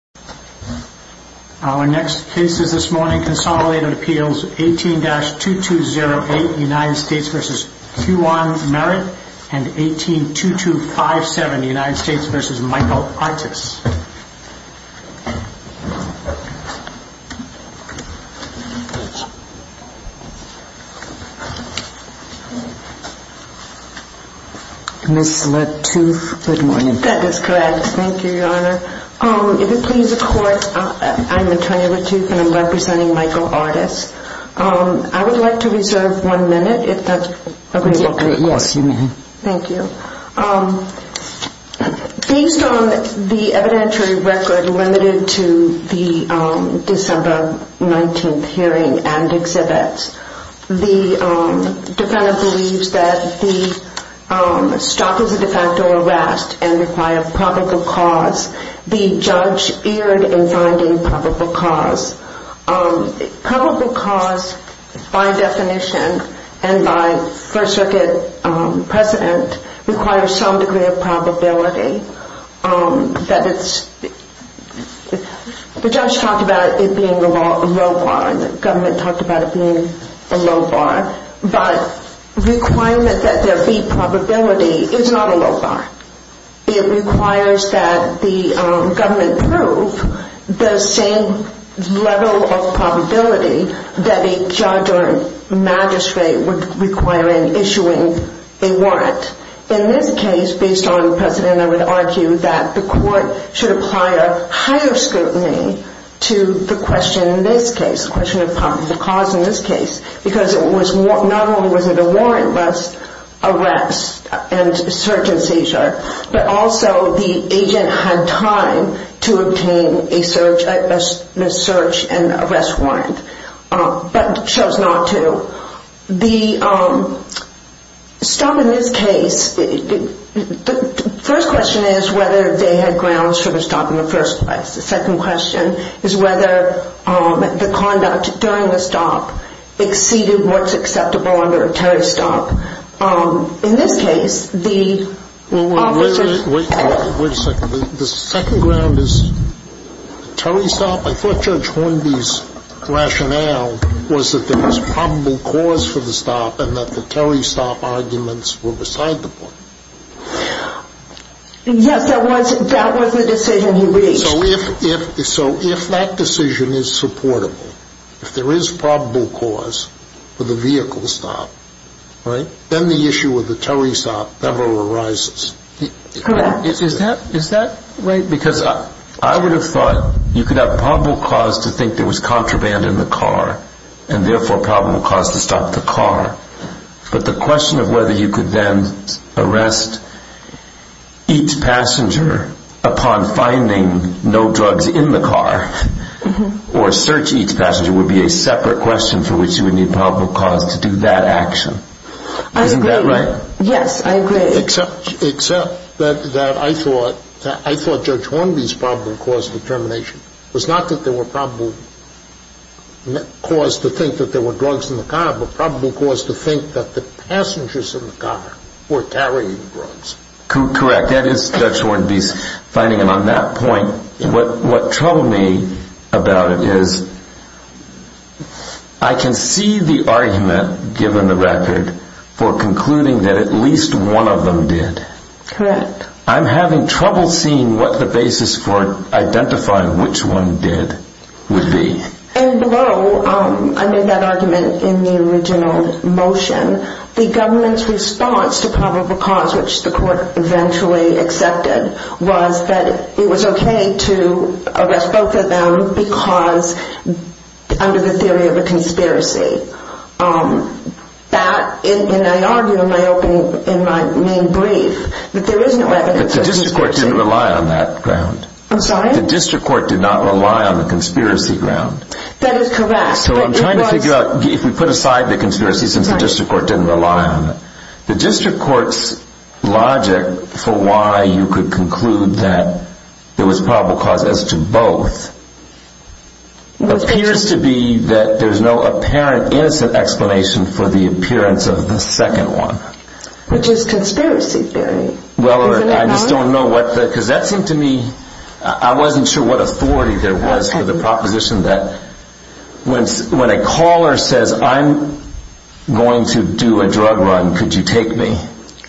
182257 United States v. Michael Artis Miss Latouf, good morning. That is correct. Thank you. Based on the evidentiary record limited to the December 19th hearing and exhibits, the defendant believes that the stop is a defacto arrest and requires probable cause. The judge erred in finding probable cause. Probable cause by definition and by First Circuit precedent requires some degree of probability. The judge talked about it being a low bar. The requirement that there be probability is not a low bar. It requires that the government prove the same level of probability that a judge or magistrate would require in issuing a warrant. In this case, based on precedent, I would argue that the question of probable cause in this case because it was not only was it a warrantless arrest and search and seizure, but also the agent had time to obtain a search and arrest warrant but chose not to. The stop in this case, the first question is whether they had grounds for the stop in the first place. The second question is whether the conduct during the stop exceeded what is acceptable under a Terry stop. In this case, the officer... Wait a second. The second ground is Terry stop? I thought Judge Hornby's rationale was that there was probable cause for the stop and that the Terry stop arguments were beside the point. Yes, that was the decision he reached. So if that decision is supportable, if there is probable cause for the vehicle stop, then the issue of the Terry stop never arises. Correct. Is that right? Because I would have thought you could have probable cause to think there was contraband in the car and therefore probable cause to stop the car, but the question of whether you could then arrest each passenger upon finding no drugs in the car or search each passenger would be a separate question for which you would need probable cause to do that action. Isn't that right? I agree. Yes, I agree. Except that I thought Judge Hornby's probable cause of the termination was not that there were probable cause to think that there were drugs in the car, but probable cause to think that the passengers in the car were carrying drugs. Correct. That is Judge Hornby's finding. And on that point, what troubled me about it is I can see the argument given the record for concluding that at least one of them did. Correct. I'm having trouble seeing what the basis for identifying which one did would be. And below, I made that argument in the original motion, the government's response to probable cause, which the court eventually accepted, was that it was okay to arrest both of them because under the theory of a conspiracy. That, and I argue in my opening, in my main brief, that there is no evidence that the district court did not rely on that ground. I'm sorry? That the district court did not rely on the conspiracy ground. That is correct. So I'm trying to figure out, if we put aside the conspiracy since the district court didn't rely on it, the district court's logic for why you could conclude that there was probable cause as to both appears to be that there's no apparent innocent explanation for the appearance of the second one. Which is conspiracy theory. Well, I just don't know what the, because that seemed to me, I wasn't sure what authority there was for the proposition that when a caller says, I'm going to do a drug run, could you take me?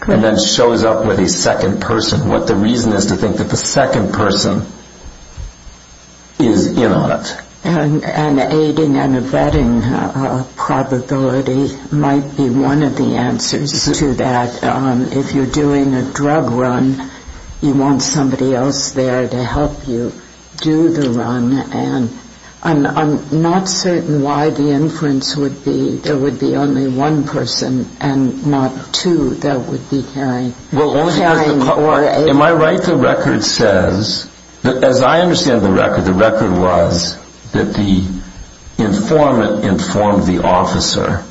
And then shows up with a second person. What the reason is to think that the second person is in on it. And aiding and abetting probability might be one of the answers to that. If you're doing a drug run, you want somebody else there to help you do the run. And I'm not certain why the inference would be there would be only one person and not two that would be carrying. Well, am I right to record says, as I understand the record, the record was that the informant informed the officer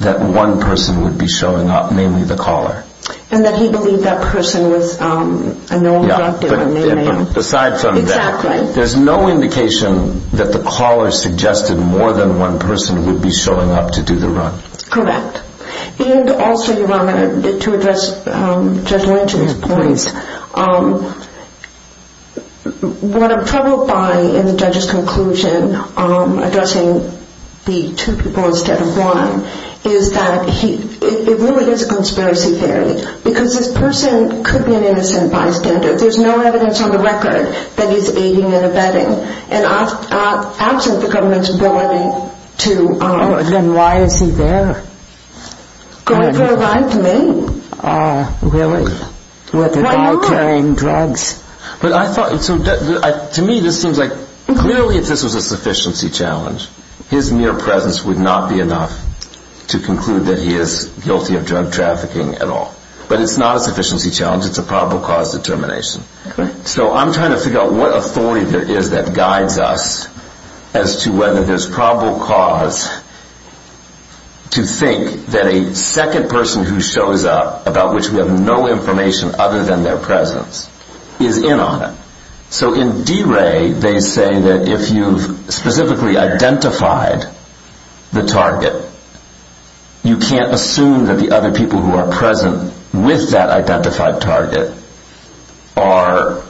that one person would be showing up, namely the caller. And that he believed that person was a known drug dealer. Yeah, but besides that, there's no indication that the caller suggested more than one person would be showing up to do the run. Correct. And also you want to address Judge Lynch's points. What I'm troubled by in the judge's conclusion, addressing the two people instead of one, is that it really is a conspiracy theory. Because this person could be an innocent bystander. There's no evidence on the record that he's aiding and abetting. And absent the government's ability to... Oh, then why is he there? Going for a ride to Maine. Oh, really? With a guy carrying drugs? But I thought, to me this seems like, clearly if this was a sufficiency challenge, his mere But it's not a sufficiency challenge, it's a probable cause determination. So I'm trying to figure out what authority there is that guides us as to whether there's probable cause to think that a second person who shows up, about which we have no information other than their presence, is in on it. So in D-ray, they say that if you've specifically identified the target, you can't assume that the other people who are present with that identified target are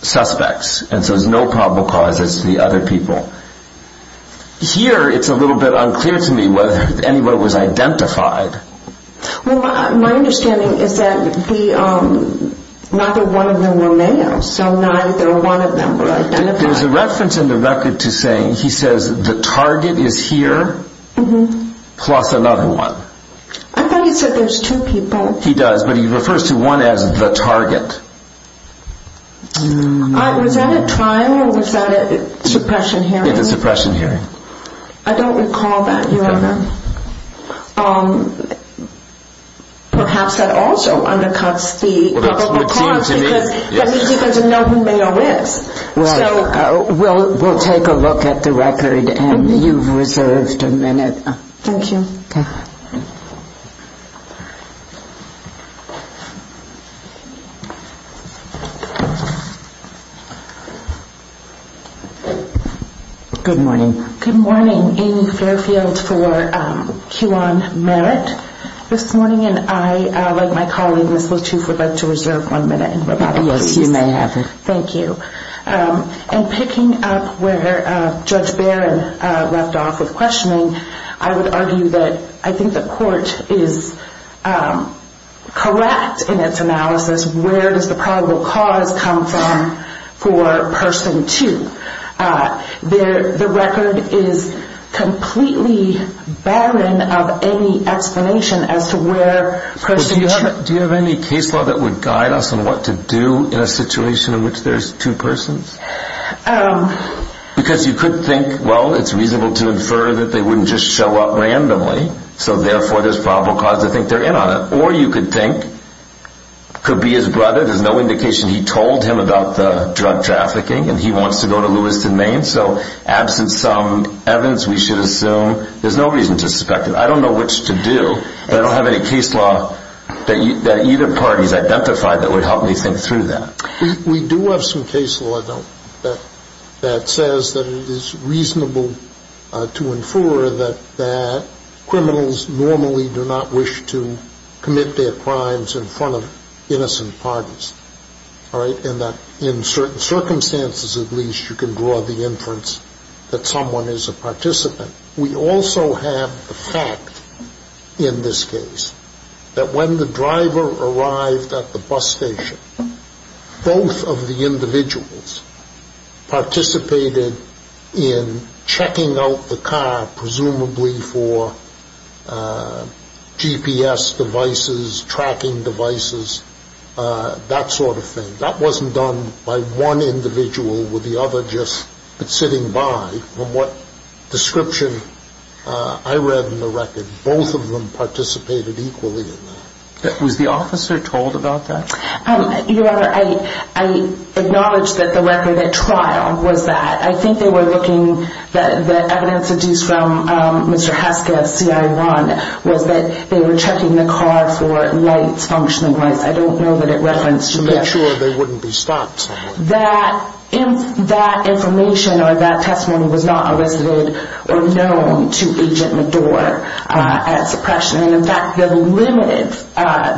suspects. And so there's no probable cause, it's the other people. Here, it's a little bit unclear to me whether anyone was identified. Well, my understanding is that neither one of them were male, so neither one of them were identified. There's a reference in the record to saying, he says, the target is here, plus another one. I thought he said there's two people. He does, but he refers to one as the target. Was that a trial or was that a suppression hearing? It was a suppression hearing. I don't recall that. Perhaps that also undercuts the probable cause because that means he doesn't know who male is. Right. We'll take a look at the record. You've reserved a minute. Thank you. Good morning. Good morning. Amy Fairfield for Q on Merit. This morning, and I, like my colleague, Ms. Latouf, would like to reserve one minute. Yes, you may have it. Thank you. And picking up where Judge Barron left off with questioning, I would argue that I think the court is correct in its analysis. Where does the probable cause come from for person two? The record is completely barren of any explanation as to where person two... Do you have any case law that would guide us on what to do in a situation in which there's two persons? Because you could think, well, it's reasonable to infer that they wouldn't just show up randomly, so therefore there's probable cause to think they're in on it. Or you could think, could be his brother, there's no indication he told him about the drug trafficking, and he wants to go to Lewiston, Maine, so absent some evidence, we should assume there's no reason to suspect it. I don't know which to do, but I don't have any case law that either party has identified that would help me think through that. We do have some case law, though, that says that it is reasonable to infer that criminals normally do not wish to commit their crimes in front of innocent parties. In certain circumstances, at least, you can draw the inference that someone is a participant. We also have the fact, in this case, that when the driver arrived at the bus station, both of the individuals participated in checking out the car, presumably for GPS devices, tracking devices. That sort of thing. That wasn't done by one individual with the other just sitting by. From what description I read in the record, both of them participated equally in that. Was the officer told about that? Your Honor, I acknowledge that the record at trial was that. I think they were looking at the evidence that was deduced from Mr. Haskew's CI1. They were checking the car for lights, functioning lights. I don't know that it referenced GPS. To make sure they wouldn't be stopped. That information or that testimony was not elicited or known to Agent Medour at suppression. In fact, the limited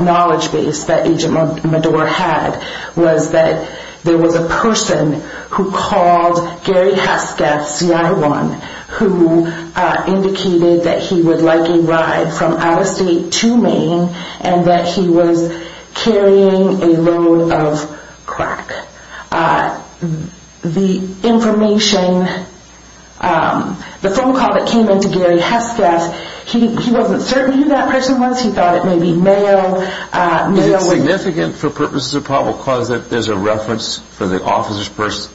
knowledge base that Agent Medour had was that there was a person who called Gary Haskew's CI1 who indicated that he would like a ride from out of state to Maine and that he was carrying a load of crack. The information, the phone call that came in to Gary Haskew's, he wasn't certain who that person was. He thought it may be male. Is it significant for purposes of probable cause that there's a reference for the officer's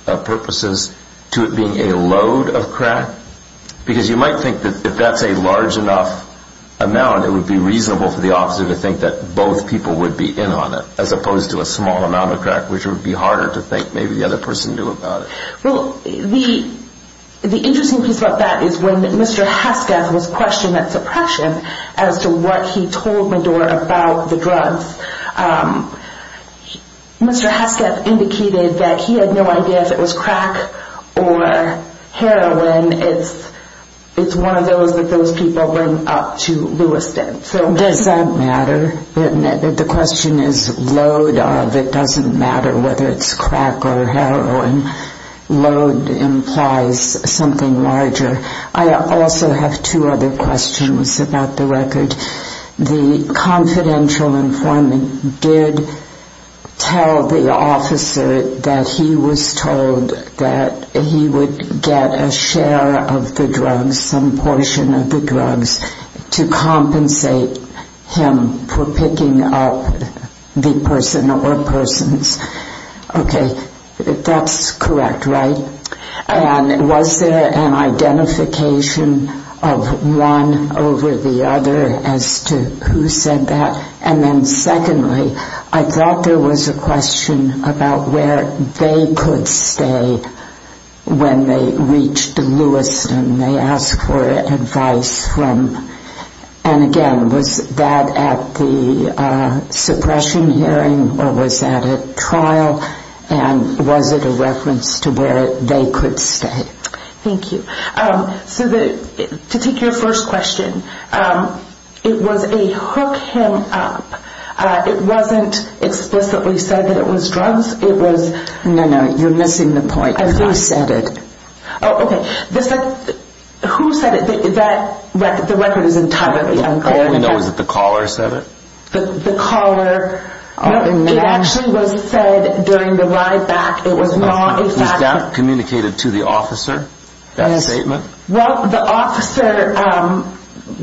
purposes to it being a load of crack? Because you might think that if that's a large enough amount, it would be reasonable for the officer to think that both people would be in on it. As opposed to a small amount of crack, which would be harder to think maybe the other person knew about it. Well, the interesting piece about that is when Mr. Haskew was questioned at suppression as to what he told Medour about the drugs, Mr. Haskew indicated that he had no idea if it was crack or heroin. It's one of those that those people bring up to Lewiston. Does that matter? The question is load of. It doesn't matter whether it's crack or heroin. Load implies something larger. I also have two other questions about the record. The confidential informant did tell the officer that he was told that he would get a share of the drugs, some portion of the drugs, to compensate him for picking up the person or persons. Okay, that's correct, right? And was there an identification of one over the other as to who said that? And then secondly, I thought there was a question about where they could stay when they reached Lewiston. They asked for advice from, and again, was that at the suppression hearing or was that at trial? And was it a reference to where they could stay? Thank you. So to take your first question, it was a hook him up. It wasn't explicitly said that it was drugs. No, no, you're missing the point. Who said it? Who said it? The record is entirely unclear. All we know is that the caller said it. The caller? It actually was said during the ride back. Was that communicated to the officer? That statement? Well, the officer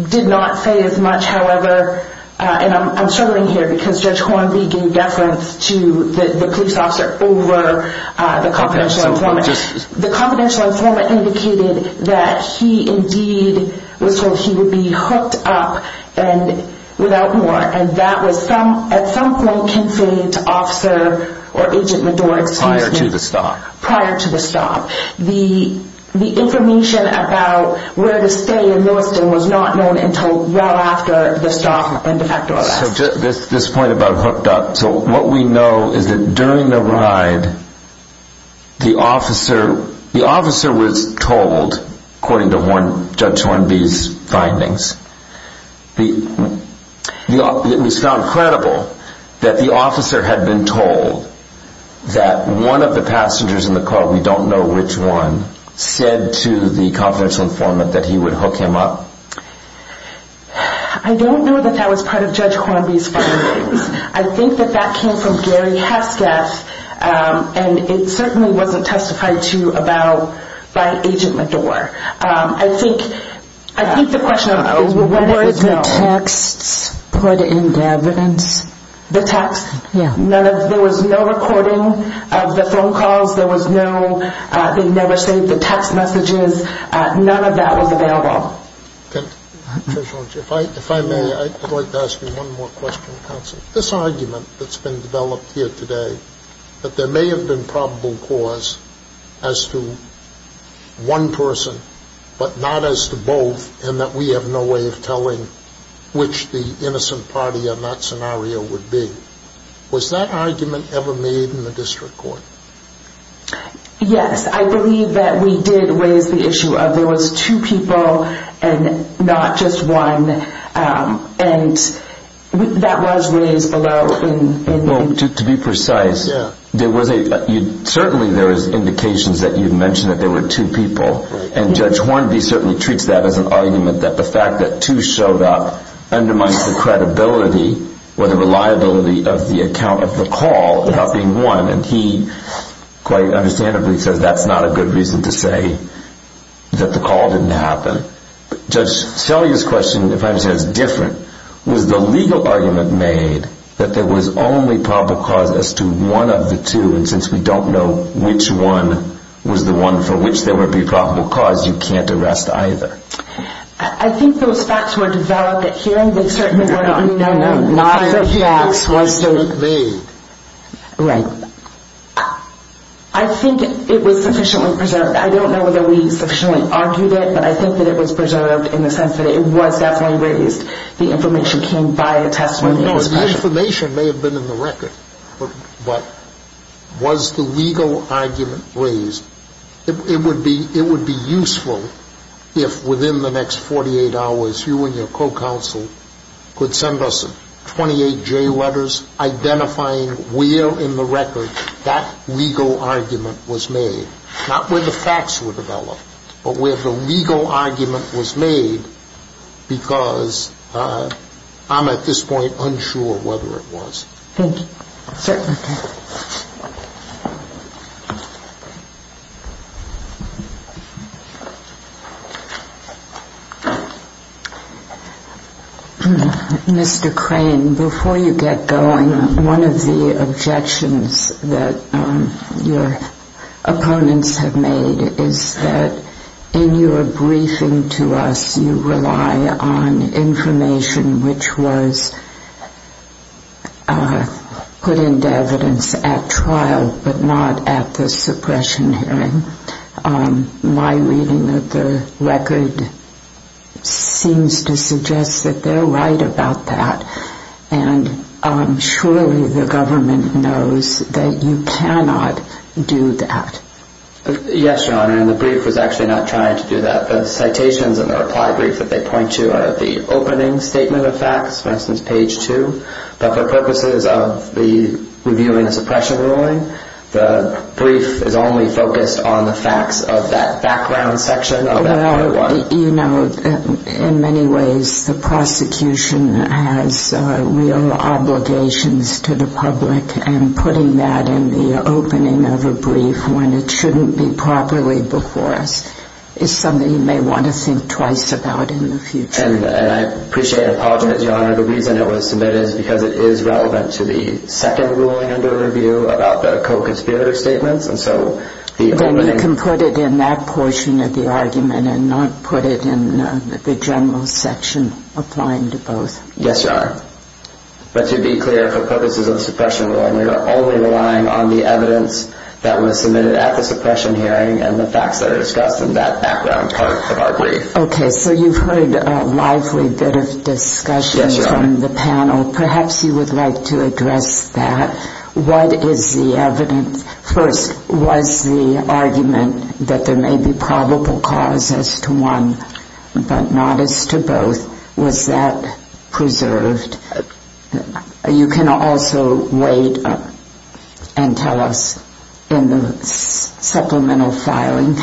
did not say as much, however, and I'm struggling here because Judge Hornby gave deference to the police officer over the confidential informant. The confidential informant indicated that he, indeed, was told he would be hooked up and without more. And that was at some point conveyed to Officer or Agent Medore. Prior to the stop. Prior to the stop. The information about where to stay in Lewiston was not known until well after the stop and de facto arrest. This point about hooked up, so what we know is that during the ride, the officer was told, according to Judge Hornby's findings, it was found credible that the officer had been told that one of the passengers in the car, we don't know which one, said to the confidential informant that he would hook him up. I don't know that that was part of Judge Hornby's findings. I think that that came from Gary Hesketh and it certainly wasn't testified to about by Agent Medore. I think, I think the question is what were the texts put into evidence? The texts? Yeah. None of, there was no recording of the phone calls, there was no, they never saved the text messages, none of that was available. Judge Hornby, if I may, I'd like to ask you one more question, counsel. This argument that's been developed here today, that there may have been probable cause as to one person, but not as to both, and that we have no way of telling which the innocent party in that scenario would be. Was that argument ever made in the district court? Yes, I believe that we did raise the issue of there was two people and not just one, and that was raised below. Well, to be precise, there was a, certainly there is indications that you've mentioned that there were two people, and Judge Hornby certainly treats that as an argument that the fact that two showed up undermines the credibility, or the reliability of the account of the call without being one, and he quite understandably says that's not a good reason to say that the call didn't happen. Judge, Shelley's question, if I understand it, is different. Was the legal argument made that there was only probable cause as to one of the two, and since we don't know which one was the one for which there would be probable cause, you can't arrest either? I think those facts were developed at hearing. No, no, no, not at hearing. The facts weren't made. Right. I think it was sufficiently preserved. I don't know whether we sufficiently argued it, but I think that it was preserved in the sense that it was definitely raised. The information came by the testimony. No, the information may have been in the record, but was the legal argument raised? It would be useful if within the next 48 hours you and your co-counsel could send us 28 J letters identifying where in the record that legal argument was made. Not where the facts were developed, but where the legal argument was made, because I'm at this point unsure whether it was. Thank you. Certainly. Thank you. Mr. Crane, before you get going, one of the objections that your opponents have made is that in your briefing to us you rely on information which was put into evidence at trial, but not at the suppression hearing. My reading of the record seems to suggest that they're right about that, and surely the government knows that you cannot do that. Yes, Your Honor, and the brief was actually not trying to do that. The citations in the reply brief that they point to are the opening statement of facts, for instance page 2, but for purposes of reviewing a suppression ruling, the brief is only focused on the facts of that background section of that paragraph. Well, you know, in many ways the prosecution has real obligations to the public, and putting that in the opening of a brief when it shouldn't be properly before us is something you may want to think twice about in the future. And I appreciate and apologize, Your Honor. The reason it was submitted is because it is relevant to the second ruling under review about the co-conspirator statements, and so the opening... Then you can put it in that portion of the argument and not put it in the general section applying to both. Yes, Your Honor, but to be clear, for purposes of the suppression ruling, we are only relying on the evidence that was submitted at the suppression hearing and the facts that are discussed in that background part of our brief. Okay, so you've heard a lively bit of discussion from the panel. Perhaps you would like to address that. What is the evidence? First, was the argument that there may be probable cause as to one but not as to both, was that preserved? You can also weigh it up and tell us in the supplemental filing.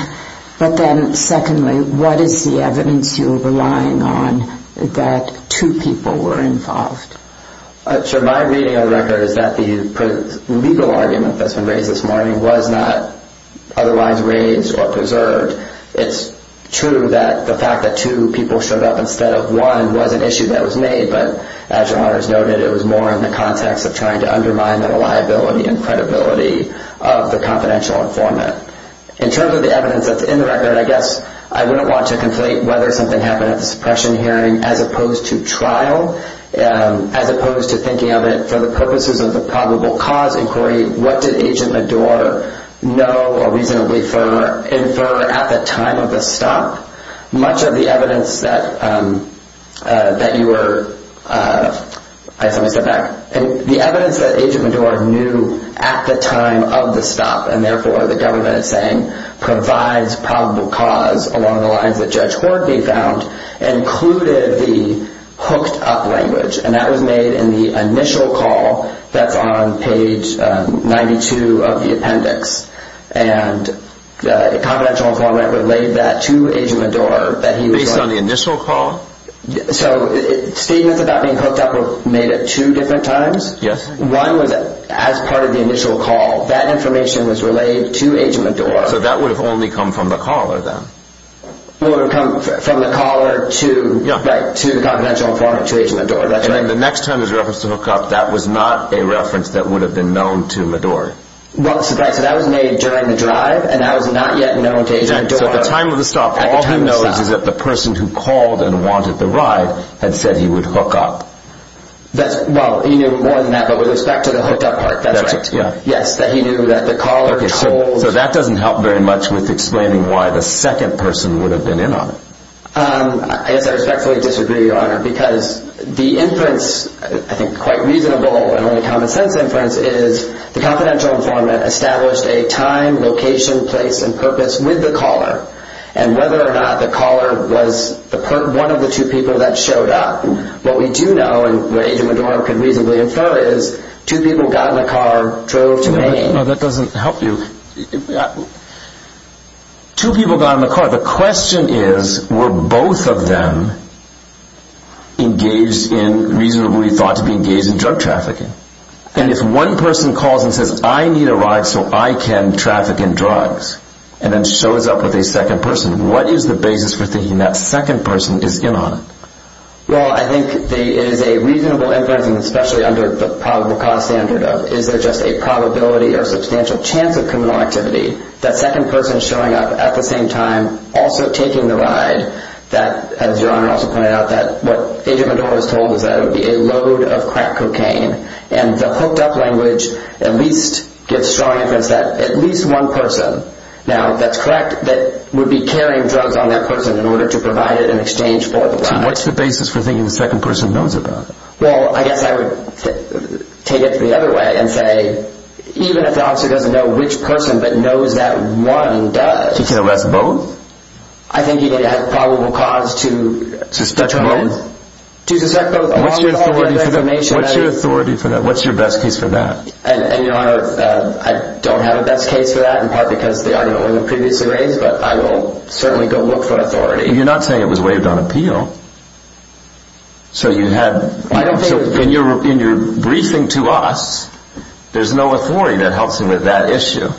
But then secondly, what is the evidence you're relying on that two people were involved? My reading of the record is that the legal argument that's been raised this morning was not otherwise raised or preserved. It's true that the fact that two people showed up instead of one was an issue that was made, but as Your Honor has noted, it was more in the context of trying to undermine the reliability and credibility of the confidential informant. In terms of the evidence that's in the record, I guess I wouldn't want to conflate whether something happened at the suppression hearing as opposed to trial, as opposed to thinking of it for the purposes of the probable cause inquiry. What did Agent Medour know or reasonably infer at the time of the stop? Much of the evidence that you were... I have to step back. The evidence that Agent Medour knew at the time of the stop, and therefore the government is saying provides probable cause along the lines that Judge Hoardney found, included the hooked up language. And that was made in the initial call that's on page 92 of the appendix. And the confidential informant relayed that to Agent Medour that he was... Based on the initial call? So statements about being hooked up were made at two different times? Yes. One was as part of the initial call. That information was relayed to Agent Medour. So that would have only come from the caller then? It would have come from the caller to the confidential informant, to Agent Medour. And then the next time there was a reference to hook up, that was not a reference that would have been known to Medour? Well, that was made during the drive, and that was not yet known to Agent Medour. So at the time of the stop, all he knows is that the person who called and wanted the ride had said he would hook up. Well, he knew more than that, but with respect to the hooked up part, that's right. Yes, that he knew that the caller told... So that doesn't help very much with explaining why the second person would have been in on it. I guess I respectfully disagree, Your Honor, because the inference, I think quite reasonable and only common sense inference, is the confidential informant established a time, location, place, and purpose with the caller. And whether or not the caller was one of the two people that showed up, what we do know, and what Agent Medour could reasonably infer, is two people got in the car, drove to Maine... No, that doesn't help you. Two people got in the car. The question is, were both of them engaged in, reasonably thought to be engaged in, drug trafficking? And if one person calls and says, I need a ride so I can traffic in drugs, and then shows up with a second person, what is the basis for thinking that second person is in on it? Well, I think it is a reasonable inference, and especially under the probable cause standard of, is there just a probability or substantial chance of criminal activity, that second person showing up at the same time, also taking the ride, that, as Your Honor also pointed out, that what Agent Medour is told is that it would be a load of crack cocaine. And the hooked-up language at least gives strong inference that at least one person, now, that's correct, that would be carrying drugs on that person in order to provide it in exchange for the ride. What's the basis for thinking the second person knows about it? Well, I guess I would take it the other way and say, even if the officer doesn't know which person, but knows that one does... He can arrest both? I think he can add probable cause to... Suspect both? To suspect both. What's your authority for that? What's your best case for that? And Your Honor, I don't have a best case for that, in part because the argument wasn't previously raised, but I will certainly go look for authority. You're not saying it was waived on appeal. So you had... I don't think... In your briefing to us, there's no authority that helps him with that issue.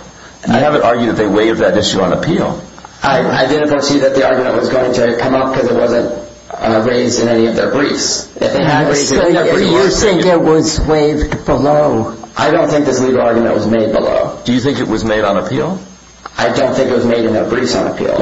You haven't argued that they waived that issue on appeal. I didn't foresee that the argument was going to come up because it wasn't raised in any of their briefs. They had raised it in their briefs. So you think it was waived below? I don't think this legal argument was made below. Do you think it was made on appeal? I don't think it was made in their briefs on appeal.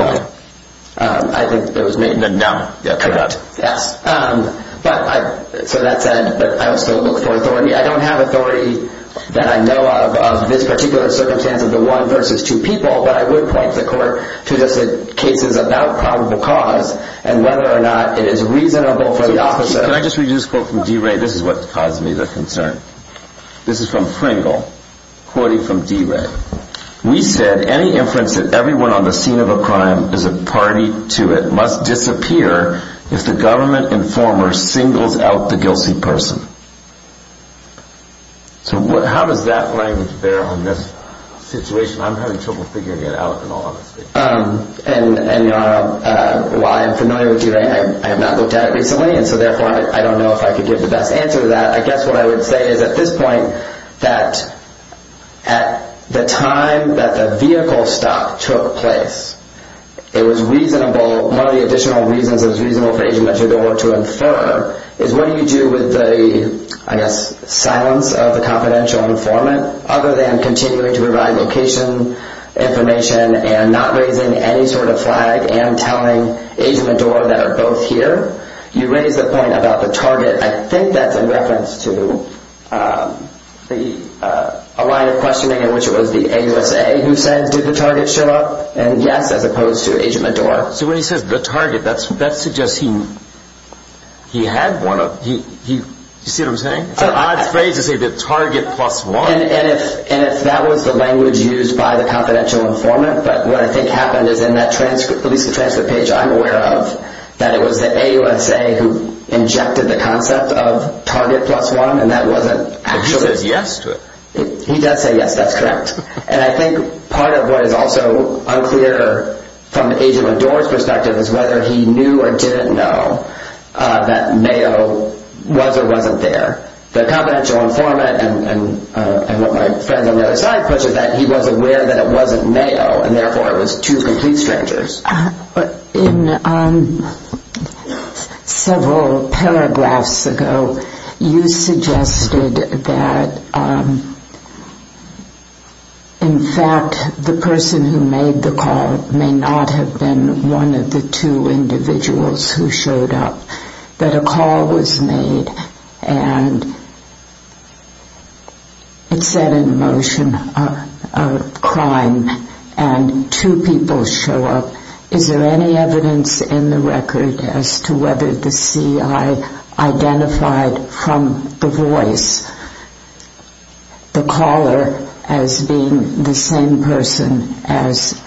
I think it was made... No. Correct. Yes. But I... So that said, I will still look for authority. I don't have authority that I know of, of this particular circumstance of the one versus two people, but I would point the court to just cases about probable cause and whether or not it is reasonable for the officer... Can I just read you this quote from DeRay? This is what caused me the concern. This is from Pringle, quoting from DeRay. We said, any inference that everyone on the scene of a crime is a party to it must disappear if the government informer singles out the guilty person. So how does that language bear on this situation? I'm having trouble figuring it out in all honesty. And while I am familiar with DeRay, I have not looked at it recently, and so therefore I don't know if I could give the best answer to that. I guess what I would say is at this point that at the time that the vehicle stop took place, it was reasonable... One of the additional reasons it was reasonable for Agent Meddour to infer is what do you do with the, I guess, silence of the confidential informant other than continuing to provide location information and not raising any sort of flag and telling Agent Meddour that are both here? You raise the point about the target. I think that's in reference to a line of questioning in which it was the AUSA who said, did the target show up? And yes, as opposed to Agent Meddour. So when he says the target, that suggests he had one of... You see what I'm saying? It's an odd phrase to say the target plus one. And if that was the language used by the confidential informant, but what I think happened is in that transcript, at least the transcript page I'm aware of, that it was the AUSA who injected the concept of target plus one, and that wasn't actually... He says yes to it. He does say yes, that's correct. And I think part of what is also unclear from Agent Meddour's perspective is whether he knew or didn't know that Mayo was or wasn't there. The confidential informant, and what my friends on the other side push, is that he was aware that it wasn't Mayo, and therefore it was two complete strangers. In several paragraphs ago, you suggested that in fact the person who made the call may not have been one of the two individuals who showed up. That a call was made and it set in motion a crime and two people show up. Is there any evidence in the record as to whether the CI identified from the voice the caller as being the same person as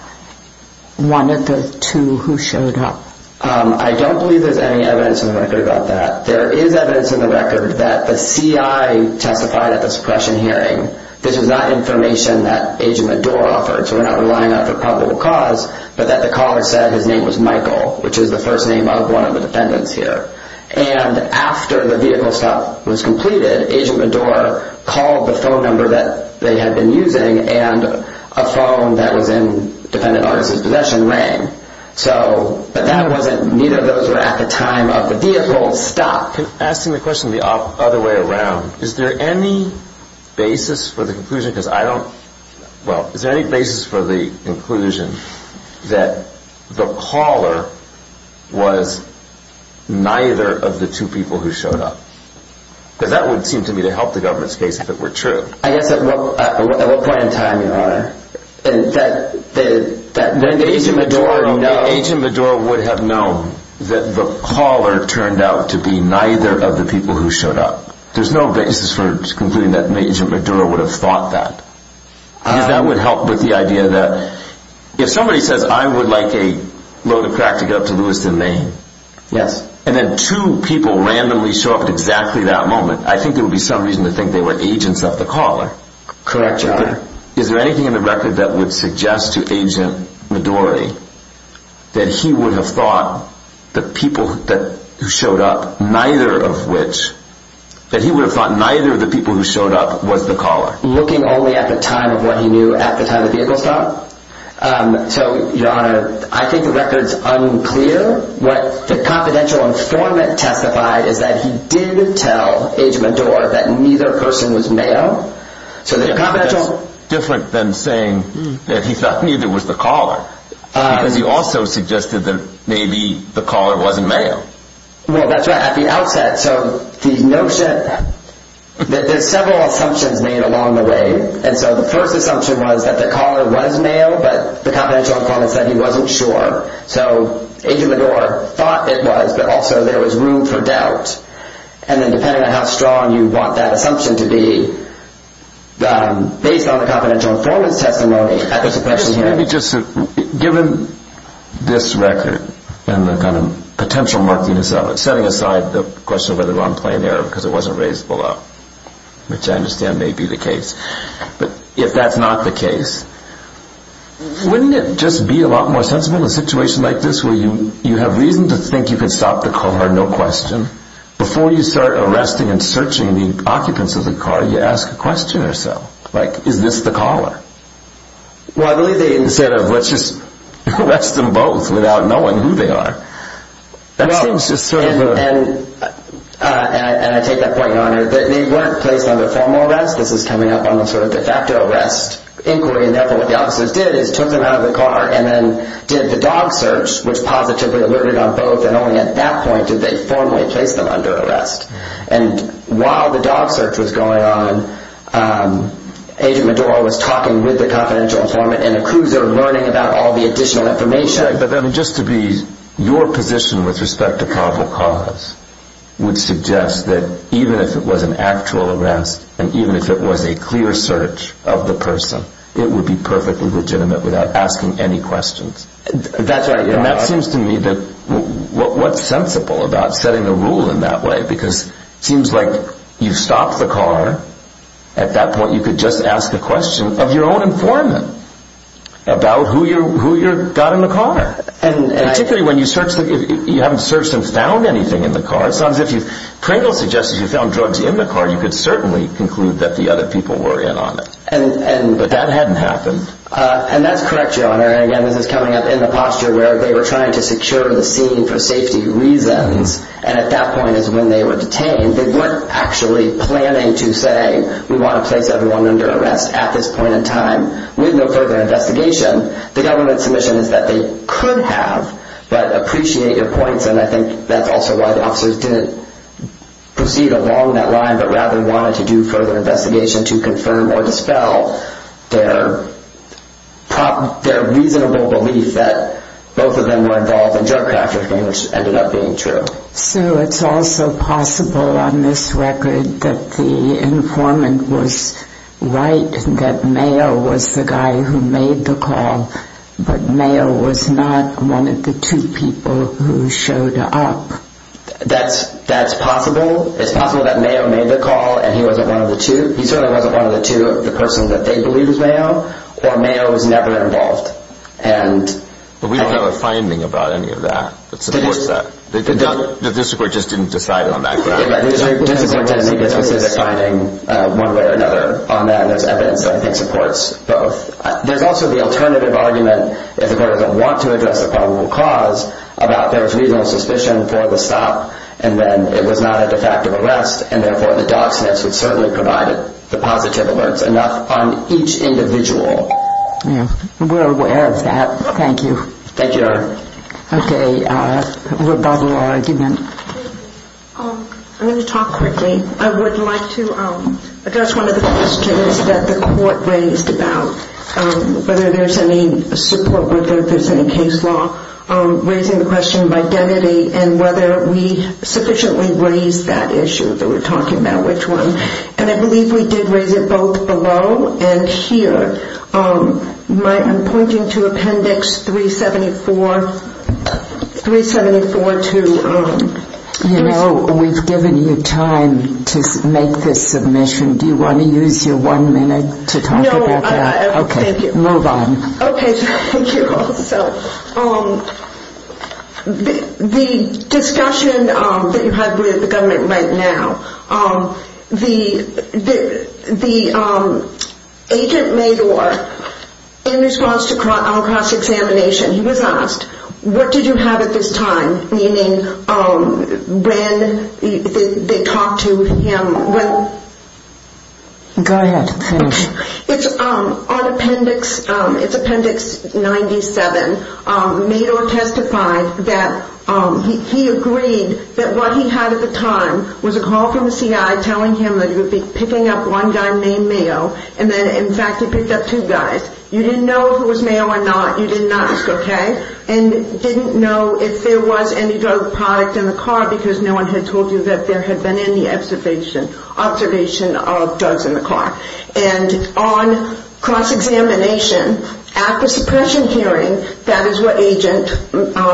one of the two who showed up? I don't believe there's any evidence in the record about that. There is evidence in the record that the CI testified at the suppression hearing. This is not information that Agent Meddour offered, so we're not relying on it for probable cause, but that the caller said his name was Michael, which is the first name of one of the defendants here. And after the vehicle stop was completed, Agent Meddour called the phone number that they had been using and a phone that was in the defendant's possession rang. But neither of those were at the time of the vehicle stop. Asking the question the other way around, is there any basis for the conclusion that the caller was neither of the two people who showed up? Because that would seem to me to help the government's case if it were true. I guess at what point in time, Your Honor? Agent Meddour would have known that the caller turned out to be neither of the people who showed up. There's no basis for concluding that Agent Meddour would have thought that. Because that would help with the idea that if somebody says, I would like a load of crack to get up to Lewiston, Maine, and then two people randomly show up at exactly that moment, I think there would be some reason to think they were agents of the caller. Correct, Your Honor. Is there anything in the record that would suggest to Agent Meddour that he would have thought the people who showed up, neither of which, that he would have thought neither of the people who showed up was the caller? Looking only at the time of what he knew at the time of the vehicle stop? So, Your Honor, I think the record's unclear. What the confidential informant testified is that he did tell Agent Meddour that neither person was male. That's different than saying that he thought neither was the caller. Because he also suggested that maybe the caller wasn't male. Well, that's right. At the outset, so the notion that there's several assumptions made along the way. And so the first assumption was that the caller was male, but the confidential informant said he wasn't sure. So Agent Meddour thought it was, but also there was room for doubt. And then depending on how strong you want that assumption to be, based on the confidential informant's testimony, Given this record and the kind of potential markedness of it, setting aside the question of whether I'm playing error because it wasn't raised below, which I understand may be the case. But if that's not the case, wouldn't it just be a lot more sensible in a situation like this where you have reason to think you can stop the caller, no question. Before you start arresting and searching the occupants of the car, you ask a question or so. Like, is this the caller? Well, I believe they... Instead of, let's just arrest them both without knowing who they are. That seems just sort of... And I take that point, Your Honor. They weren't placed under formal arrest. This is coming up on the sort of de facto arrest inquiry. And therefore what the officers did is took them out of the car and then did the dog search, which positively alerted on both. And only at that point did they formally place them under arrest. And while the dog search was going on, Agent Meddour was talking with the confidential informant and the crews that were learning about all the additional information. But then just to be... Your position with respect to probable cause would suggest that even if it was an actual arrest and even if it was a clear search of the person, it would be perfectly legitimate without asking any questions. That's right, Your Honor. And that seems to me that... What's sensible about setting a rule in that way? Because it seems like you've stopped the car. At that point, you could just ask the question of your own informant about who you got in the car. And particularly when you search the... You haven't searched and found anything in the car. It sounds as if you've... Pringle suggests if you found drugs in the car, you could certainly conclude that the other people were in on it. But that hadn't happened. And that's correct, Your Honor. And again, this is coming up in the posture where they were trying to secure the scene for safety reasons. And at that point is when they were detained. They weren't actually planning to say, we want to place everyone under arrest at this point in time with no further investigation. The government's submission is that they could have, but appreciate your points. And I think that's also why the officers didn't proceed along that line, but rather wanted to do further investigation to confirm or dispel their reasonable belief that both of them were involved in drug trafficking, which ended up being true. So it's also possible on this record that the informant was right, that Mayo was the guy who made the call, but Mayo was not one of the two people who showed up. That's possible. It's possible that Mayo made the call and he certainly wasn't one of the two of the persons that they believed was Mayo, or Mayo was never involved. But we don't have a finding about any of that that supports that. The district court just didn't decide on that ground. The district court didn't need a specific finding one way or another on that, and there's evidence that I think supports both. There's also the alternative argument, if the court doesn't want to address the probable cause, about there's reasonable suspicion for the stop and then it was not a de facto arrest, and therefore the dog sniffs would certainly provide the positive alerts enough on each individual. Yeah, we're aware of that. Thank you. Thank you, Your Honor. Okay, rebuttal argument. I'm going to talk quickly. I would like to address one of the questions that the court raised about whether there's any support, whether there's any case law, raising the question of identity and whether we sufficiently raised that issue that we're talking about, which one. And I believe we did raise it both below and here. I'm pointing to Appendix 374 to... You know, we've given you time to make this submission. Do you want to use your one minute to talk about that? No, thank you. Okay, move on. Okay, thank you also. The discussion that you had with the government right now, the agent made or in response to our cross-examination, he was asked, what did you have at this time? Meaning when they talked to him, when... Go ahead, please. It's on Appendix... It's Appendix 97. Made or testified that he agreed that what he had at the time was a call from the CI telling him that he would be picking up one guy named Mayo and that, in fact, he picked up two guys. You didn't know if it was Mayo or not. You didn't ask, okay? And didn't know if there was any drug product in the car because no one had told you that there had been any observation of drugs in the car. And on cross-examination, after suppression hearing, that is what agent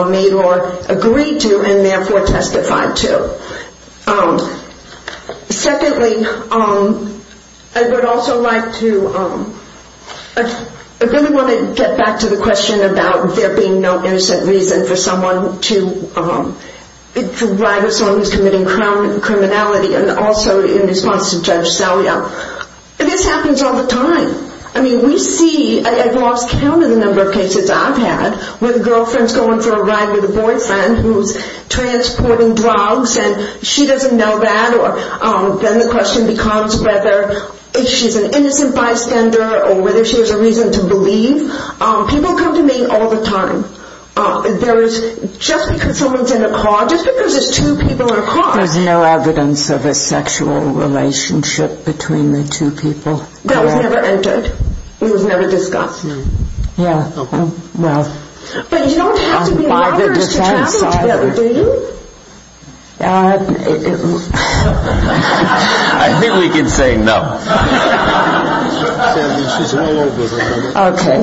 made or agreed to and therefore testified to. Secondly, I would also like to... I really want to get back to the question about there being no innocent reason for someone to... for someone who's committing criminality and also in response to Judge Salia. This happens all the time. I mean, we see... I've lost count of the number of cases I've had where the girlfriend's going for a ride with a boyfriend who's transporting drugs and she doesn't know that or then the question becomes whether she's an innocent bystander or whether she has a reason to believe. People come to me all the time. There is... Just because someone's in a car, just because there's two people in a car... I don't have a sexual relationship between the two people. That was never entered. It was never discussed. Yeah, well... But you don't have to be lovers to travel together, do you? I think we can say no. Okay,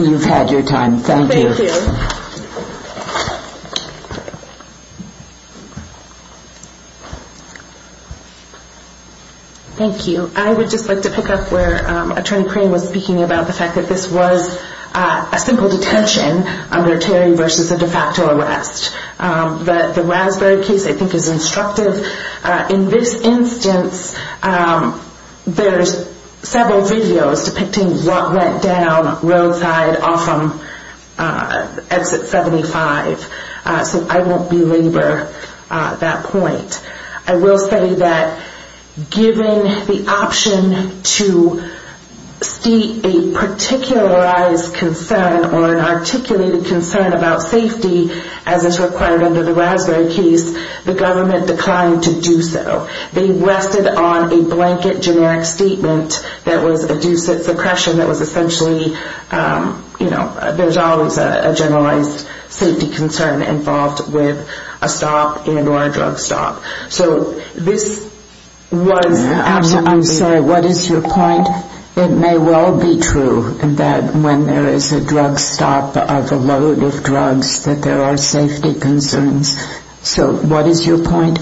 you've had your time. Thank you. Thank you. I would just like to pick up where Attorney Crain was speaking about the fact that this was a simple detention under Terry versus a de facto arrest. The Raspberry case I think is instructive. In this instance, there's several videos depicting what went down roadside off of Exit 75. So I won't belabor that point. I will say that given the option to state a particularized concern or an articulated concern about safety, as is required under the Raspberry case, the government declined to do so. They rested on a blanket generic statement that was a due suppression that was essentially... There's always a generalized safety concern involved with a stop and or a drug stop. So this was... I'm sorry, what is your point? It may well be true that when there is a drug stop of a load of drugs that there are safety concerns. So what is your point?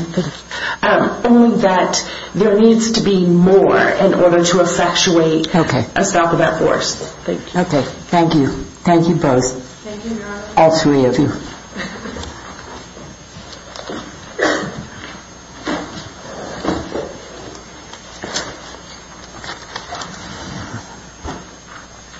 Only that there needs to be more in order to effectuate a stop of that force. Thank you. Thank you. Thank you both. All three of you.